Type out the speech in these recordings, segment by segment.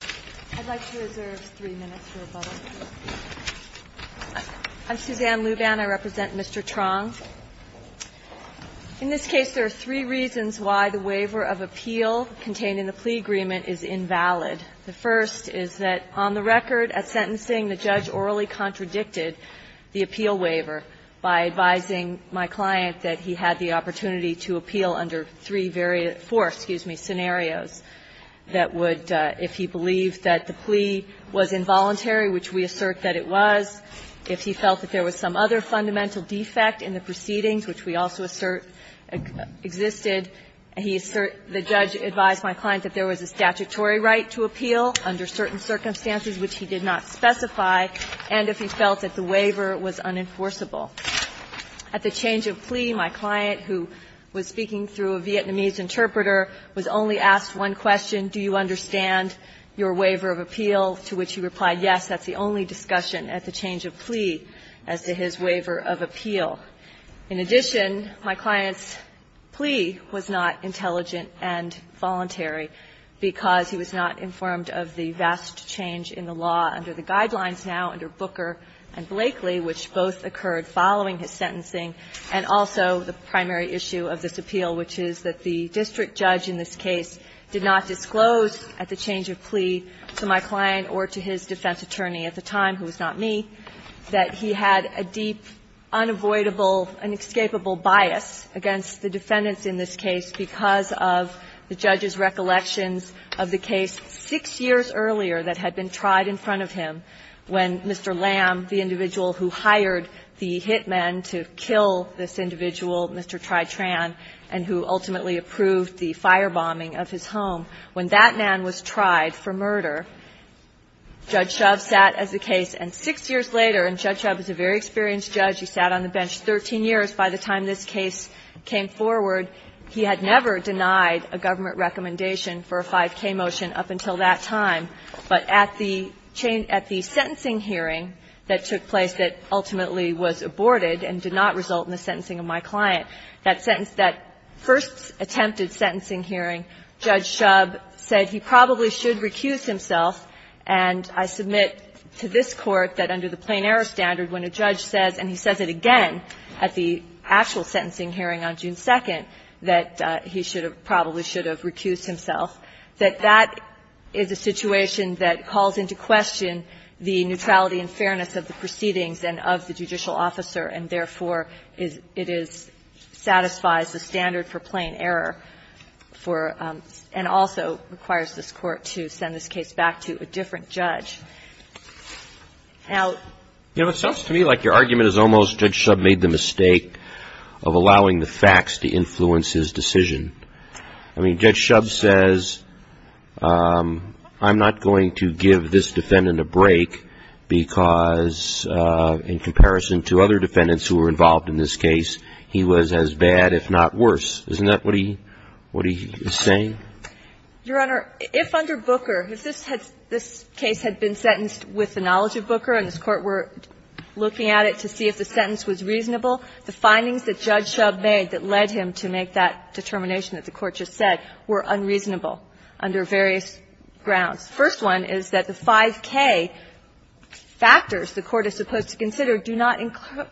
In this case, there are three reasons why the waiver of appeal contained in the plea agreement is invalid. The first is that, on the record, at sentencing, the judge orally contradicted the appeal waiver by advising my client that he had the opportunity to appeal under three various or four, excuse me, scenarios that would, if he believed that the plea was involuntary, which we assert that it was, if he felt that there was some other fundamental defect in the proceedings, which we also assert existed, he assert the judge advised my client that there was a statutory right to appeal under certain circumstances which he did not specify, and if he felt that the waiver was unenforceable. At the change of plea, my client, who was speaking through a Vietnamese interpreter, was only asked one question, do you understand your waiver of appeal, to which he replied yes. That's the only discussion at the change of plea as to his waiver of appeal. In addition, my client's plea was not intelligent and voluntary because he was not informed of the vast change in the law under the guidelines now under Booker and following his sentencing, and also the primary issue of this appeal, which is that the district judge in this case did not disclose at the change of plea to my client or to his defense attorney at the time, who was not me, that he had a deep, unavoidable, inescapable bias against the defendants in this case because of the judge's recollections of the case 6 years earlier that had been tried in front of him when Mr. Lam, the individual who hired the hitmen to kill this individual, Mr. Tri Tran, and who ultimately approved the firebombing of his home, when that man was tried for murder, Judge Shove sat as the case. And 6 years later, and Judge Shove is a very experienced judge, he sat on the bench 13 years by the time this case came forward, he had never denied a government recommendation for a 5K motion up until that time. But at the change at the sentencing hearing that took place that ultimately was aborted and did not result in the sentencing of my client, that sentence that first attempted sentencing hearing, Judge Shove said he probably should recuse himself, and I submit to this Court that under the plain error standard, when a judge says, and he says it again at the actual sentencing hearing on June 2nd, that he should or probably should have recused himself, that that is a situation that calls into question the neutrality and fairness of the proceedings and of the judicial officer, and therefore, it is – satisfies the standard for plain error for – and also requires this Court to send this case back to a different judge. Now – Roberts-Governor, it sounds to me like your argument is almost Judge Shove made the decision. I mean, Judge Shove says, I'm not going to give this defendant a break because in comparison to other defendants who were involved in this case, he was as bad, if not worse. Isn't that what he – what he is saying? Your Honor, if under Booker, if this had – this case had been sentenced with the knowledge of Booker and this Court were looking at it to see if the sentence was reasonable, the findings that Judge Shove made that led him to make that determination that the Court just said were unreasonable under various grounds. The first one is that the 5k factors the Court is supposed to consider do not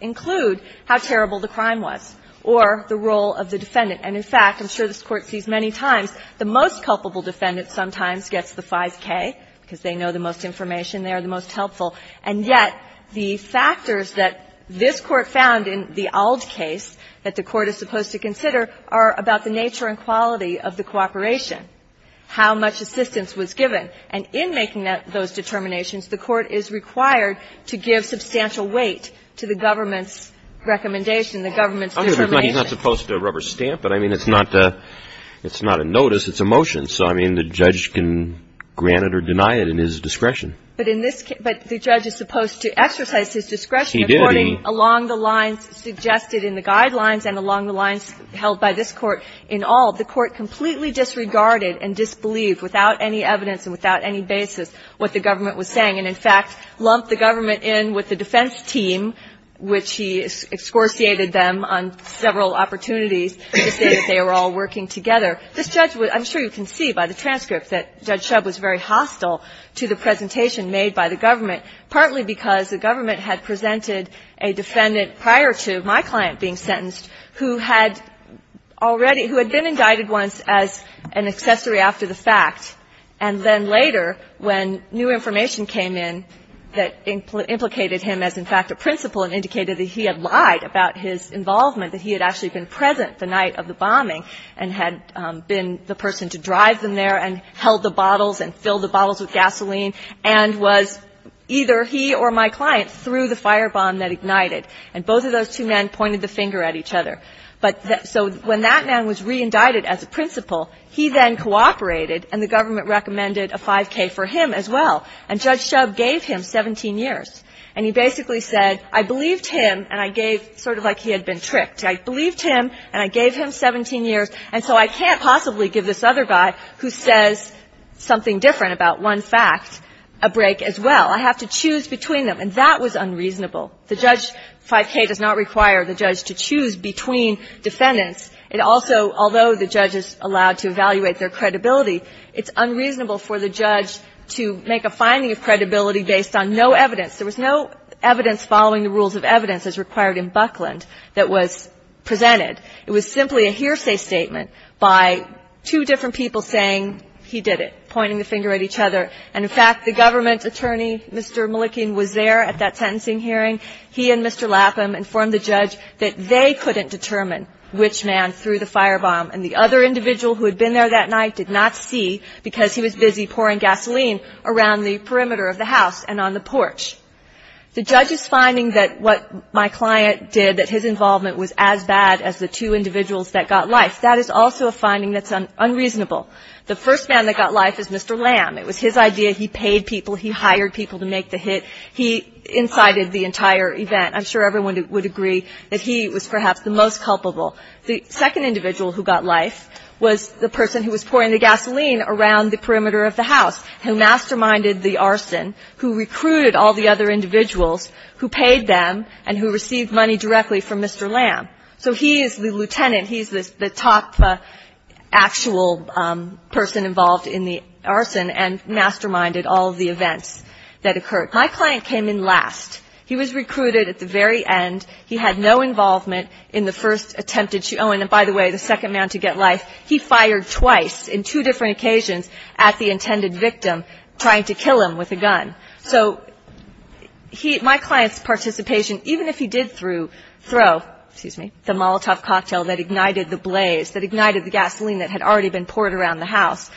include how terrible the crime was or the role of the defendant. And in fact, I'm sure this Court sees many times, the most culpable defendant sometimes gets the 5k because they know the most information, they are the most helpful. And yet, the factors that this Court found in the Auld case that the Court is supposed to consider are about the nature and quality of the cooperation, how much assistance was given. And in making that – those determinations, the Court is required to give substantial weight to the government's recommendation, the government's determination. He's not supposed to rubber stamp, but I mean, it's not a – it's not a notice, it's a motion. So I mean, the judge can grant it or deny it in his discretion. But in this case – but the judge is supposed to exercise his discretion. He did. According along the lines suggested in the guidelines and along the lines held by this Court in Auld, the Court completely disregarded and disbelieved, without any evidence and without any basis, what the government was saying. And in fact, lumped the government in with the defense team, which he excorciated them on several opportunities to say that they were all working together. This judge would – I'm sure you can see by the transcript that Judge Shove was very concerned about the determination made by the government, partly because the government had presented a defendant prior to my client being sentenced who had already – who had been indicted once as an accessory after the fact, and then later, when new information came in that implicated him as, in fact, a principal and indicated that he had lied about his involvement, that he had actually been present the night of the bombing and had been the person to drive them there and held the bottles and filled the bottles with gasoline and was either he or my client through the firebomb that ignited. And both of those two men pointed the finger at each other. But – so when that man was reindicted as a principal, he then cooperated and the government recommended a 5K for him as well. And Judge Shove gave him 17 years. And he basically said, I believed him and I gave – sort of like he had been tricked. I believed him and I gave him 17 years, and so I can't possibly give this other guy who says something different about one fact a break as well. I have to choose between them. And that was unreasonable. The Judge – 5K does not require the judge to choose between defendants. It also – although the judge is allowed to evaluate their credibility, it's unreasonable for the judge to make a finding of credibility based on no evidence. There was no evidence following the rules of evidence as required in Buckland that was presented. It was simply a hearsay statement by two different people saying he did it, pointing the finger at each other. And in fact, the government attorney, Mr. Malikian, was there at that sentencing hearing. He and Mr. Lapham informed the judge that they couldn't determine which man threw the firebomb. And the other individual who had been there that night did not see because he was busy pouring gasoline around the perimeter of the house and on the porch. The judge's finding that what my client did, that his involvement was as bad as the two individuals that got life, that is also a finding that's unreasonable. The first man that got life is Mr. Lamb. It was his idea. He paid people. He hired people to make the hit. He incited the entire event. I'm sure everyone would agree that he was perhaps the most culpable. The second individual who got life was the person who was pouring the gasoline around the perimeter of the house, who masterminded the arson, who recruited all the other individuals, who paid them, and who received money directly from Mr. Lamb. So he is the lieutenant. He's the top actual person involved in the arson and masterminded all of the events that occurred. My client came in last. He was recruited at the very end. He had no involvement in the first attempt to – oh, and by the way, the second man to get life, he fired twice in two different occasions at the intended victim, trying to kill him with a gun. So he – my client's participation, even if he did throw – excuse me – the Molotov cocktail that ignited the blaze, that ignited the gasoline that had already been poured around the house,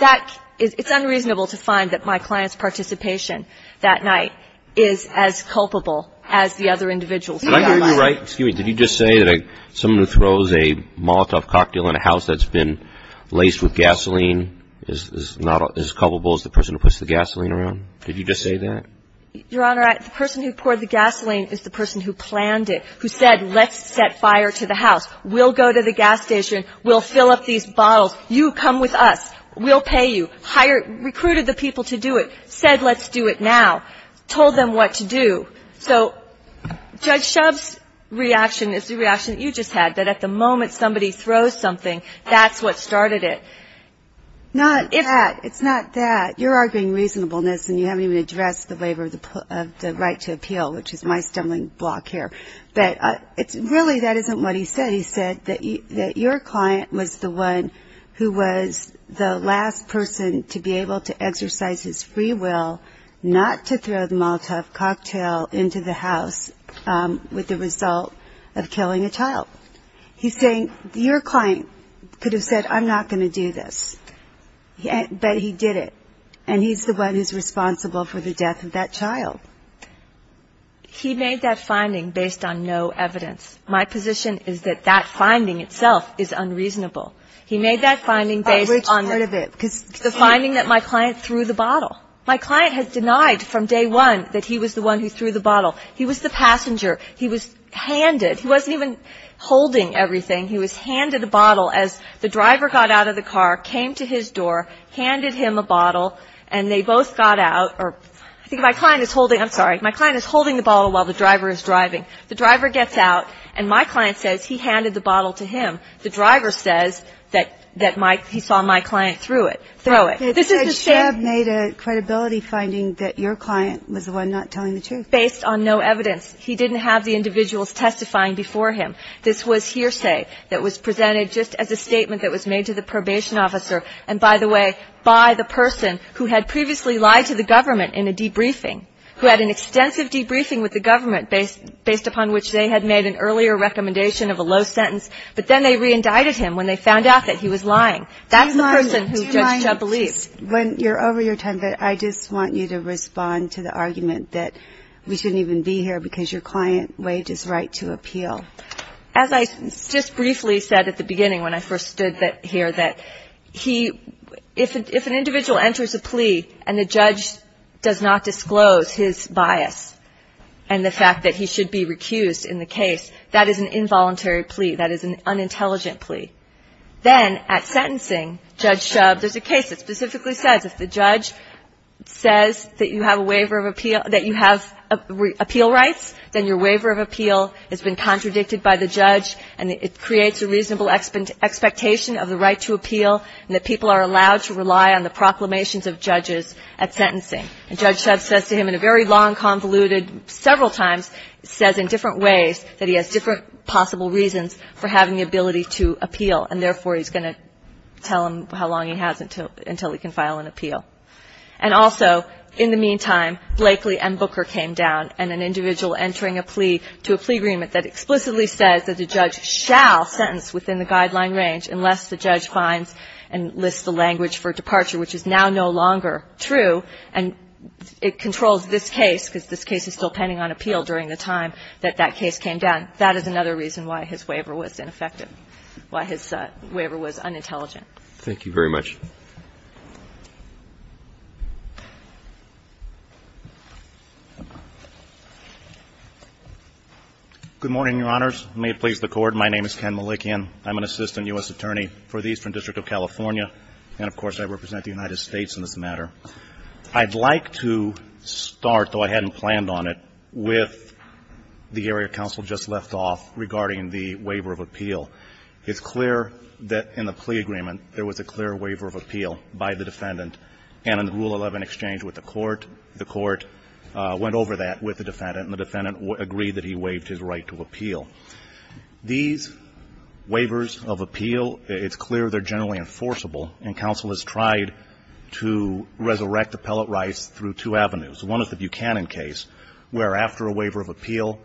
that – it's unreasonable to find that my client's participation that I'm sure you're right. Excuse me. Did you just say that someone who throws a Molotov cocktail in a house that's been laced with gasoline is not as culpable as the person who puts the gasoline around? Did you just say that? Your Honor, the person who poured the gasoline is the person who planned it, who said, let's set fire to the house. We'll go to the gas station. We'll fill up these bottles. You come with us. We'll pay you. Hire – recruited the people to do it. Said let's do it now. Told them what to do. So Judge Shub's reaction is the reaction that you just had, that at the moment somebody throws something, that's what started it. Not that. It's not that. You're arguing reasonableness and you haven't even addressed the waiver of the right to appeal, which is my stumbling block here. But it's – really, that isn't what he said. He said that your client was the one who was the last person to be able to exercise his free will not to throw the Molotov cocktail into the house with the result of killing a child. He's saying your client could have said, I'm not going to do this, but he did it, and he's the one who's responsible for the death of that child. He made that finding based on no evidence. My position is that that finding itself is unreasonable. He made that finding based on – Which part of it? Because the finding that my client threw the bottle. My client has denied from day one that he was the one who threw the bottle. He was the passenger. He was handed – he wasn't even holding everything. He was handed a bottle as the driver got out of the car, came to his door, handed him a bottle, and they both got out – or I think my client is holding – I'm sorry. My client is holding the bottle while the driver is driving. The driver gets out, and my client says he handed the bottle to him. The driver says that he saw my client throw it. This is the same – They said Schrebb made a credibility finding that your client was the one not telling the truth. Based on no evidence. He didn't have the individuals testifying before him. This was hearsay that was presented just as a statement that was made to the probation officer and, by the way, by the person who had previously lied to the government in a debriefing, who had an extensive debriefing with the government based upon which they had made an earlier recommendation of a low sentence. But then they re-indicted him when they found out that he was lying. That's the person who Judge Schrebb believes. When you're over your time, I just want you to respond to the argument that we shouldn't even be here because your client waived his right to appeal. As I just briefly said at the beginning when I first stood here, that he – if an individual enters a plea and the judge does not disclose his bias and the fact that he should be recused in the case, that is an involuntary plea. That is an unintelligent plea. Then at sentencing, Judge Schrebb – there's a case that specifically says if the judge says that you have a waiver of appeal – that you have appeal rights, then your waiver of appeal has been contradicted by the judge and it creates a reasonable expectation of the right to appeal and that people are allowed to rely on the proclamations of judges at sentencing. And Judge Schrebb says to him in a very long, convoluted – several times says in different ways that he has different possible reasons for having the ability to appeal and therefore he's going to tell him how long he has until he can file an appeal. And also, in the meantime, Blakely and Booker came down and an individual entering a plea to a plea agreement that explicitly says that the judge shall sentence within the guideline range unless the judge finds and lists the language for departure, which is now no longer true, and it controls this case because this case is still pending on appeal during the time that that case came down. That is another reason why his waiver was ineffective, why his waiver was unintelligent. Thank you very much. Good morning, Your Honors. May it please the Court, my name is Ken Malikian. I'm an assistant U.S. attorney for the Eastern District of California, and of course I represent the United States in this matter. I'd like to start, though I hadn't planned on it, with the area counsel just left off regarding the waiver of appeal. It's clear that in the plea agreement, there was a clear waiver of appeal by the defendant. And in the Rule 11 exchange with the Court, the Court went over that with the defendant and the defendant agreed that he waived his right to appeal. These waivers of appeal, it's clear they're generally enforceable, and counsel has tried to resurrect appellate rights through two avenues. One is the Buchanan case, where after a waiver of appeal,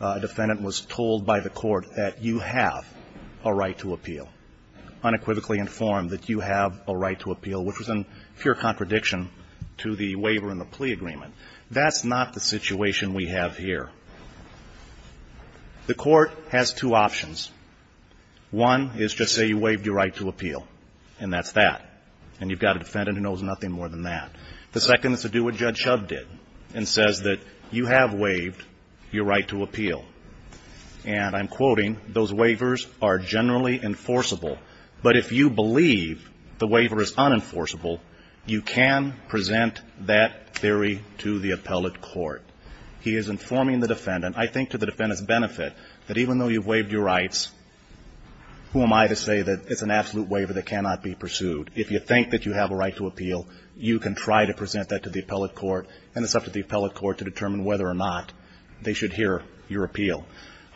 a defendant was told by the court that you have a right to appeal, unequivocally informed that you have a right to appeal, which was in pure contradiction to the waiver in the plea agreement. That's not the situation we have here. The Court has two options. One is just say you waived your right to appeal, and that's that. And you've got a defendant who knows nothing more than that. The second is to do what Judge Shove did and says that you have waived your right to appeal. And I'm quoting, those waivers are generally enforceable, but if you believe the waiver is unenforceable, you can present that theory to the appellate court. He is informing the defendant, I think to the defendant's benefit, that even though you've waived your rights, who am I to say that it's an absolute waiver that cannot be pursued. If you think that you have a right to appeal, you can try to present that to the appellate court, and it's up to the appellate court to determine whether or not they should hear your appeal.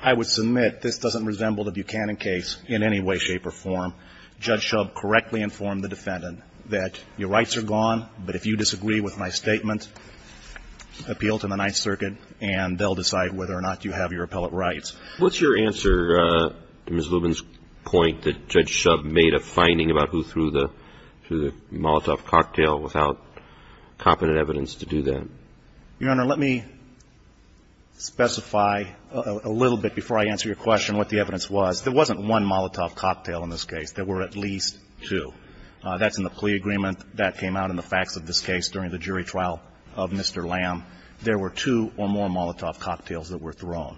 I would submit this doesn't resemble the Buchanan case in any way, shape, or form. Judge Shove correctly informed the defendant that your rights are gone, but if you and they'll decide whether or not you have your appellate rights. What's your answer to Ms. Lubin's point that Judge Shove made a finding about who threw the Molotov cocktail without competent evidence to do that? Your Honor, let me specify a little bit before I answer your question what the evidence was. There wasn't one Molotov cocktail in this case. There were at least two. That's in the plea agreement. That came out in the facts of this case during the jury trial of Mr. Lamb. There were two or more Molotov cocktails that were thrown.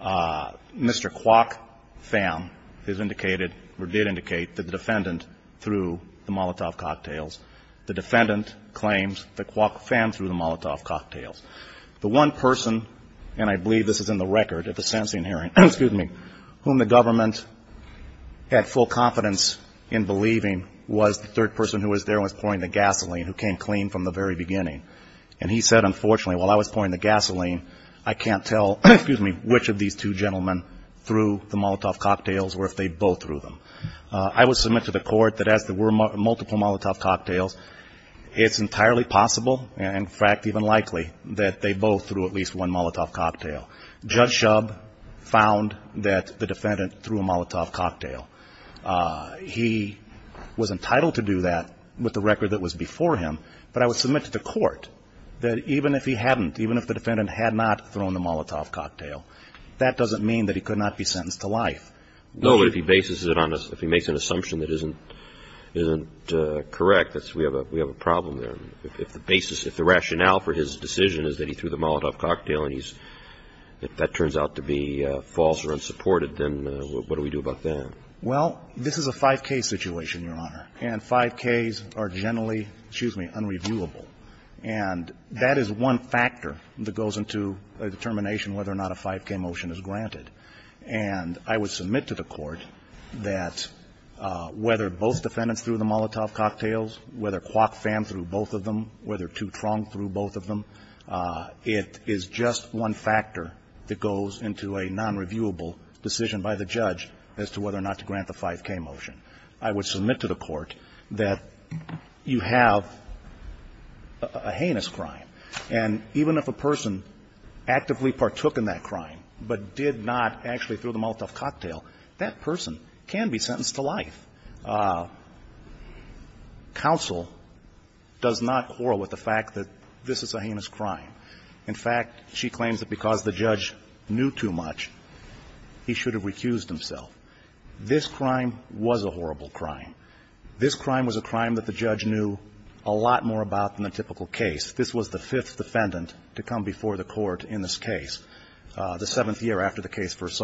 Mr. Kwok Pham has indicated or did indicate that the defendant threw the Molotov cocktails. The defendant claims that Kwok Pham threw the Molotov cocktails. The one person, and I believe this is in the record at the sentencing hearing, excuse me, whom the government had full confidence in believing was the third person who was there and was pouring the gasoline, who came clean from the very beginning. And he said, unfortunately, while I was pouring the gasoline, I can't tell, excuse me, which of these two gentlemen threw the Molotov cocktails or if they both threw them. I would submit to the court that as there were multiple Molotov cocktails, it's entirely possible, in fact, even likely that they both threw at least one Molotov cocktail. Judge Shove found that the defendant threw a Molotov cocktail. He was entitled to do that with the record that was before him, but I would submit to the court that even if he hadn't, even if the defendant had not thrown the Molotov cocktail, that doesn't mean that he could not be sentenced to life. No, but if he bases it on a, if he makes an assumption that isn't correct, that's, we have a problem there. If the basis, if the rationale for his decision is that he threw the Molotov cocktail and he's, if that turns out to be false or unsupported, then what do we do about that? Well, this is a 5K situation, Your Honor, and 5Ks are generally, excuse me, unreviewable. And that is one factor that goes into a determination whether or not a 5K motion is granted. And I would submit to the court that whether both defendants threw the Molotov cocktails, whether Kwok fanned through both of them, whether Tewtrong threw both of them, it is just one factor that goes into a nonreviewable decision by the judge as to whether or not to grant the 5K motion. I would submit to the court that you have a heinous crime. And even if a person actively partook in that crime but did not actually throw the Molotov cocktail, that person can be sentenced to life. Counsel does not quarrel with the fact that this is a heinous crime. In fact, she claims that because the judge knew too much, he should have recused himself. This crime was a horrible crime. This crime was a crime that the judge knew a lot more about than a typical case. This was the fifth defendant to come before the court in this case, the seventh year after the case first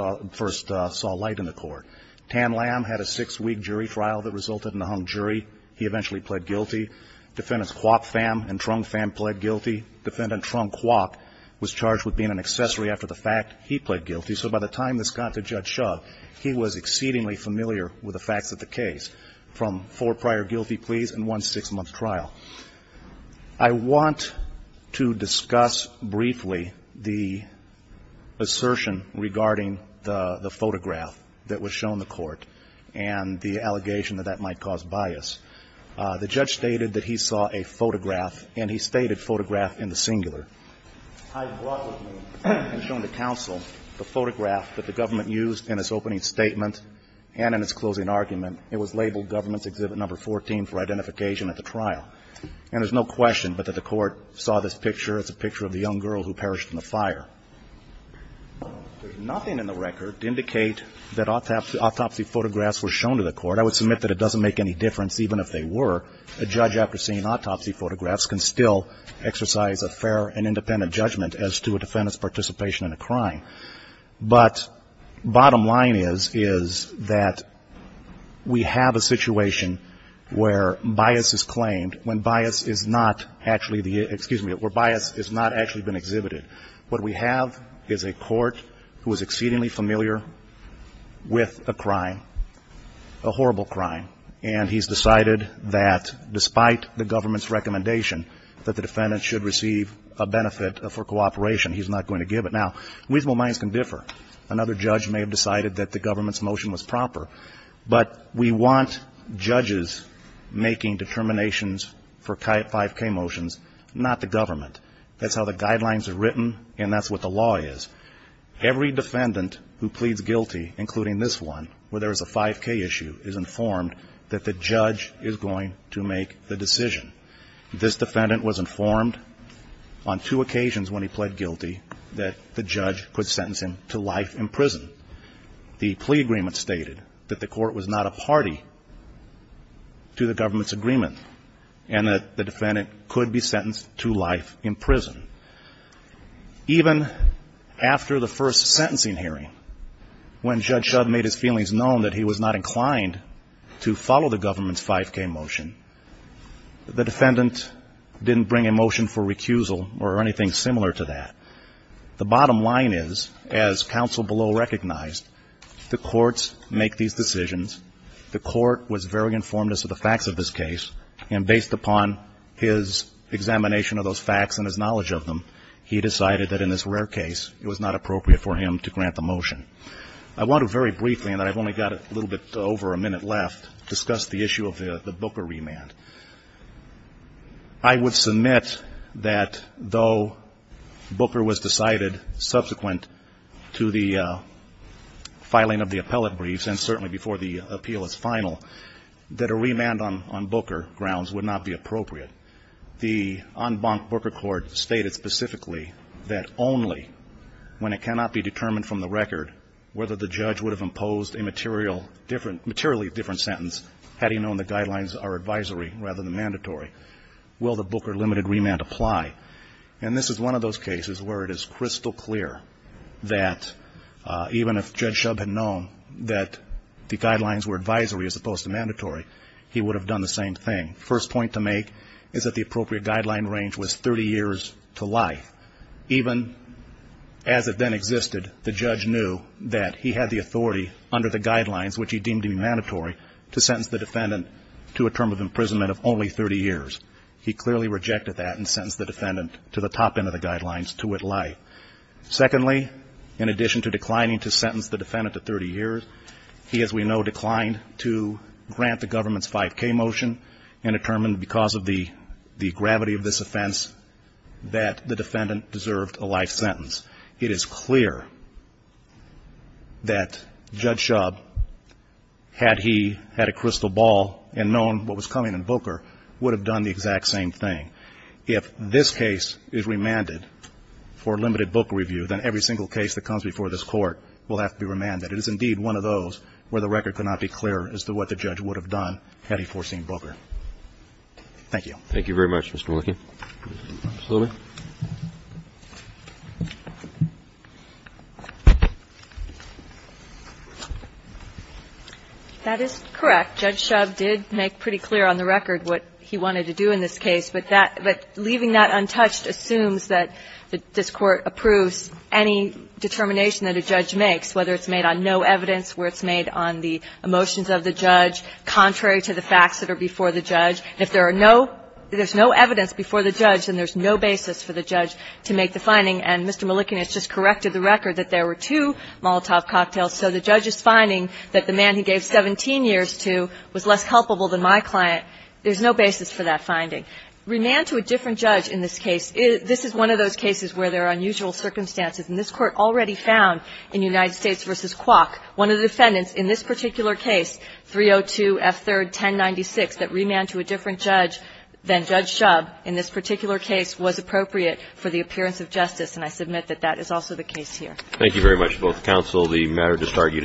saw light in the court. Tam Lam had a six-week jury trial that resulted in a hung jury. He eventually pled guilty. Defendants Kwok Pham and Tewtrong Pham pled guilty. Defendant Tewtrong Kwok was charged with being an accessory after the fact. He pled guilty. So by the time this got to Judge Shove, he was exceedingly familiar with the facts of the case from four prior guilty pleas and one six-month trial. I want to discuss briefly the assertion regarding the photograph that was shown in the court and the allegation that that might cause bias. The judge stated that he saw a photograph, and he stated photograph in the singular. I brought with me and shown to counsel the photograph that the government used in its opening statement and in its closing argument. It was labeled Government's Exhibit No. 14 for identification at the trial. And there's no question but that the court saw this picture as a picture of the young girl who perished in the fire. There's nothing in the record to indicate that autopsy photographs were shown to the court. I would submit that it doesn't make any difference even if they were. A judge after seeing autopsy photographs can still exercise a fair and independent judgment as to a defendant's participation in a crime. But bottom line is, is that we have a situation where bias is claimed when bias is not actually the, excuse me, where bias has not actually been exhibited. What we have is a court who is exceedingly familiar with a crime, a horrible crime, and he's decided that despite the government's recommendation that the defendant should receive a benefit for cooperation, he's not going to give it. Now, reasonable minds can differ. Another judge may have decided that the government's motion was proper, but we want judges making determinations for 5K motions, not the government. That's how the guidelines are written, and that's what the law is. Every defendant who pleads guilty, including this one, where there is a 5K issue, is informed that the judge is going to make the decision. This defendant was informed on two occasions when he pled guilty that the judge could sentence him to life in prison. The plea agreement stated that the court was not a party to the government's agreement, and that the defendant could be sentenced to life in prison. Even after the first sentencing hearing, when Judge Shudd made his feelings known that he was not inclined to follow the government's 5K motion, the defendant didn't bring a motion for recusal or anything similar to that. The bottom line is, as counsel below recognized, the courts make these decisions. The court was very informed as to the facts of this case, and he decided that in this rare case, it was not appropriate for him to grant the motion. I want to very briefly, and I've only got a little bit over a minute left, discuss the issue of the Booker remand. I would submit that though Booker was decided subsequent to the filing of the appellate briefs, and certainly before the appeal is final, that a remand on Booker grounds would not be appropriate. The en banc Booker court stated specifically that only when it cannot be determined from the record whether the judge would have imposed a materially different sentence, had he known the guidelines are advisory rather than mandatory, will the Booker limited remand apply. And this is one of those cases where it is crystal clear that even if Judge Shudd had known that the guidelines were advisory as opposed to mandatory, he would have done the same thing. First point to make is that the appropriate guideline range was 30 years to life. Even as it then existed, the judge knew that he had the authority under the guidelines, which he deemed to be mandatory, to sentence the defendant to a term of imprisonment of only 30 years. He clearly rejected that and sentenced the defendant to the top end of the guidelines to with life. Secondly, in addition to declining to sentence the defendant to 30 years, he, as we know, declined to grant the government's 5K motion and determined because of the gravity of this offense that the defendant deserved a life sentence. It is clear that Judge Shudd, had he had a crystal ball and known what was coming in Booker, would have done the exact same thing. If this case is remanded for limited Booker review, then every single case that comes before this court will have to be remanded. It is indeed one of those where the record could not be clearer as to what the judge would have done had he foreseen Booker. Thank you. Roberts. Thank you very much, Mr. Wilken. Ms. Lohmann. That is correct. Judge Shudd did make pretty clear on the record what he wanted to do in this case. But that – but leaving that untouched assumes that this Court approves any determination that a judge makes, whether it's made on no evidence, whether it's made on the emotions of the judge, contrary to the facts that are before the judge. If there are no – if there's no evidence before the judge, then there's no basis for the judge to make the finding. And Mr. Malikian has just corrected the record that there were two Molotov cocktails. So the judge's finding that the man he gave 17 years to was less culpable than my client, there's no basis for that finding. Remand to a different judge in this case, this is one of those cases where there are unusual circumstances. And this Court already found in United States v. Kwok, one of the defendants in this particular case, 302 F. 3rd. 1096, that remand to a different judge than Judge Shudd in this particular case was appropriate for the appearance of justice, and I submit that that is also the case here. Thank you very much, both counsel. The matter is disargued as submitted. Good morning.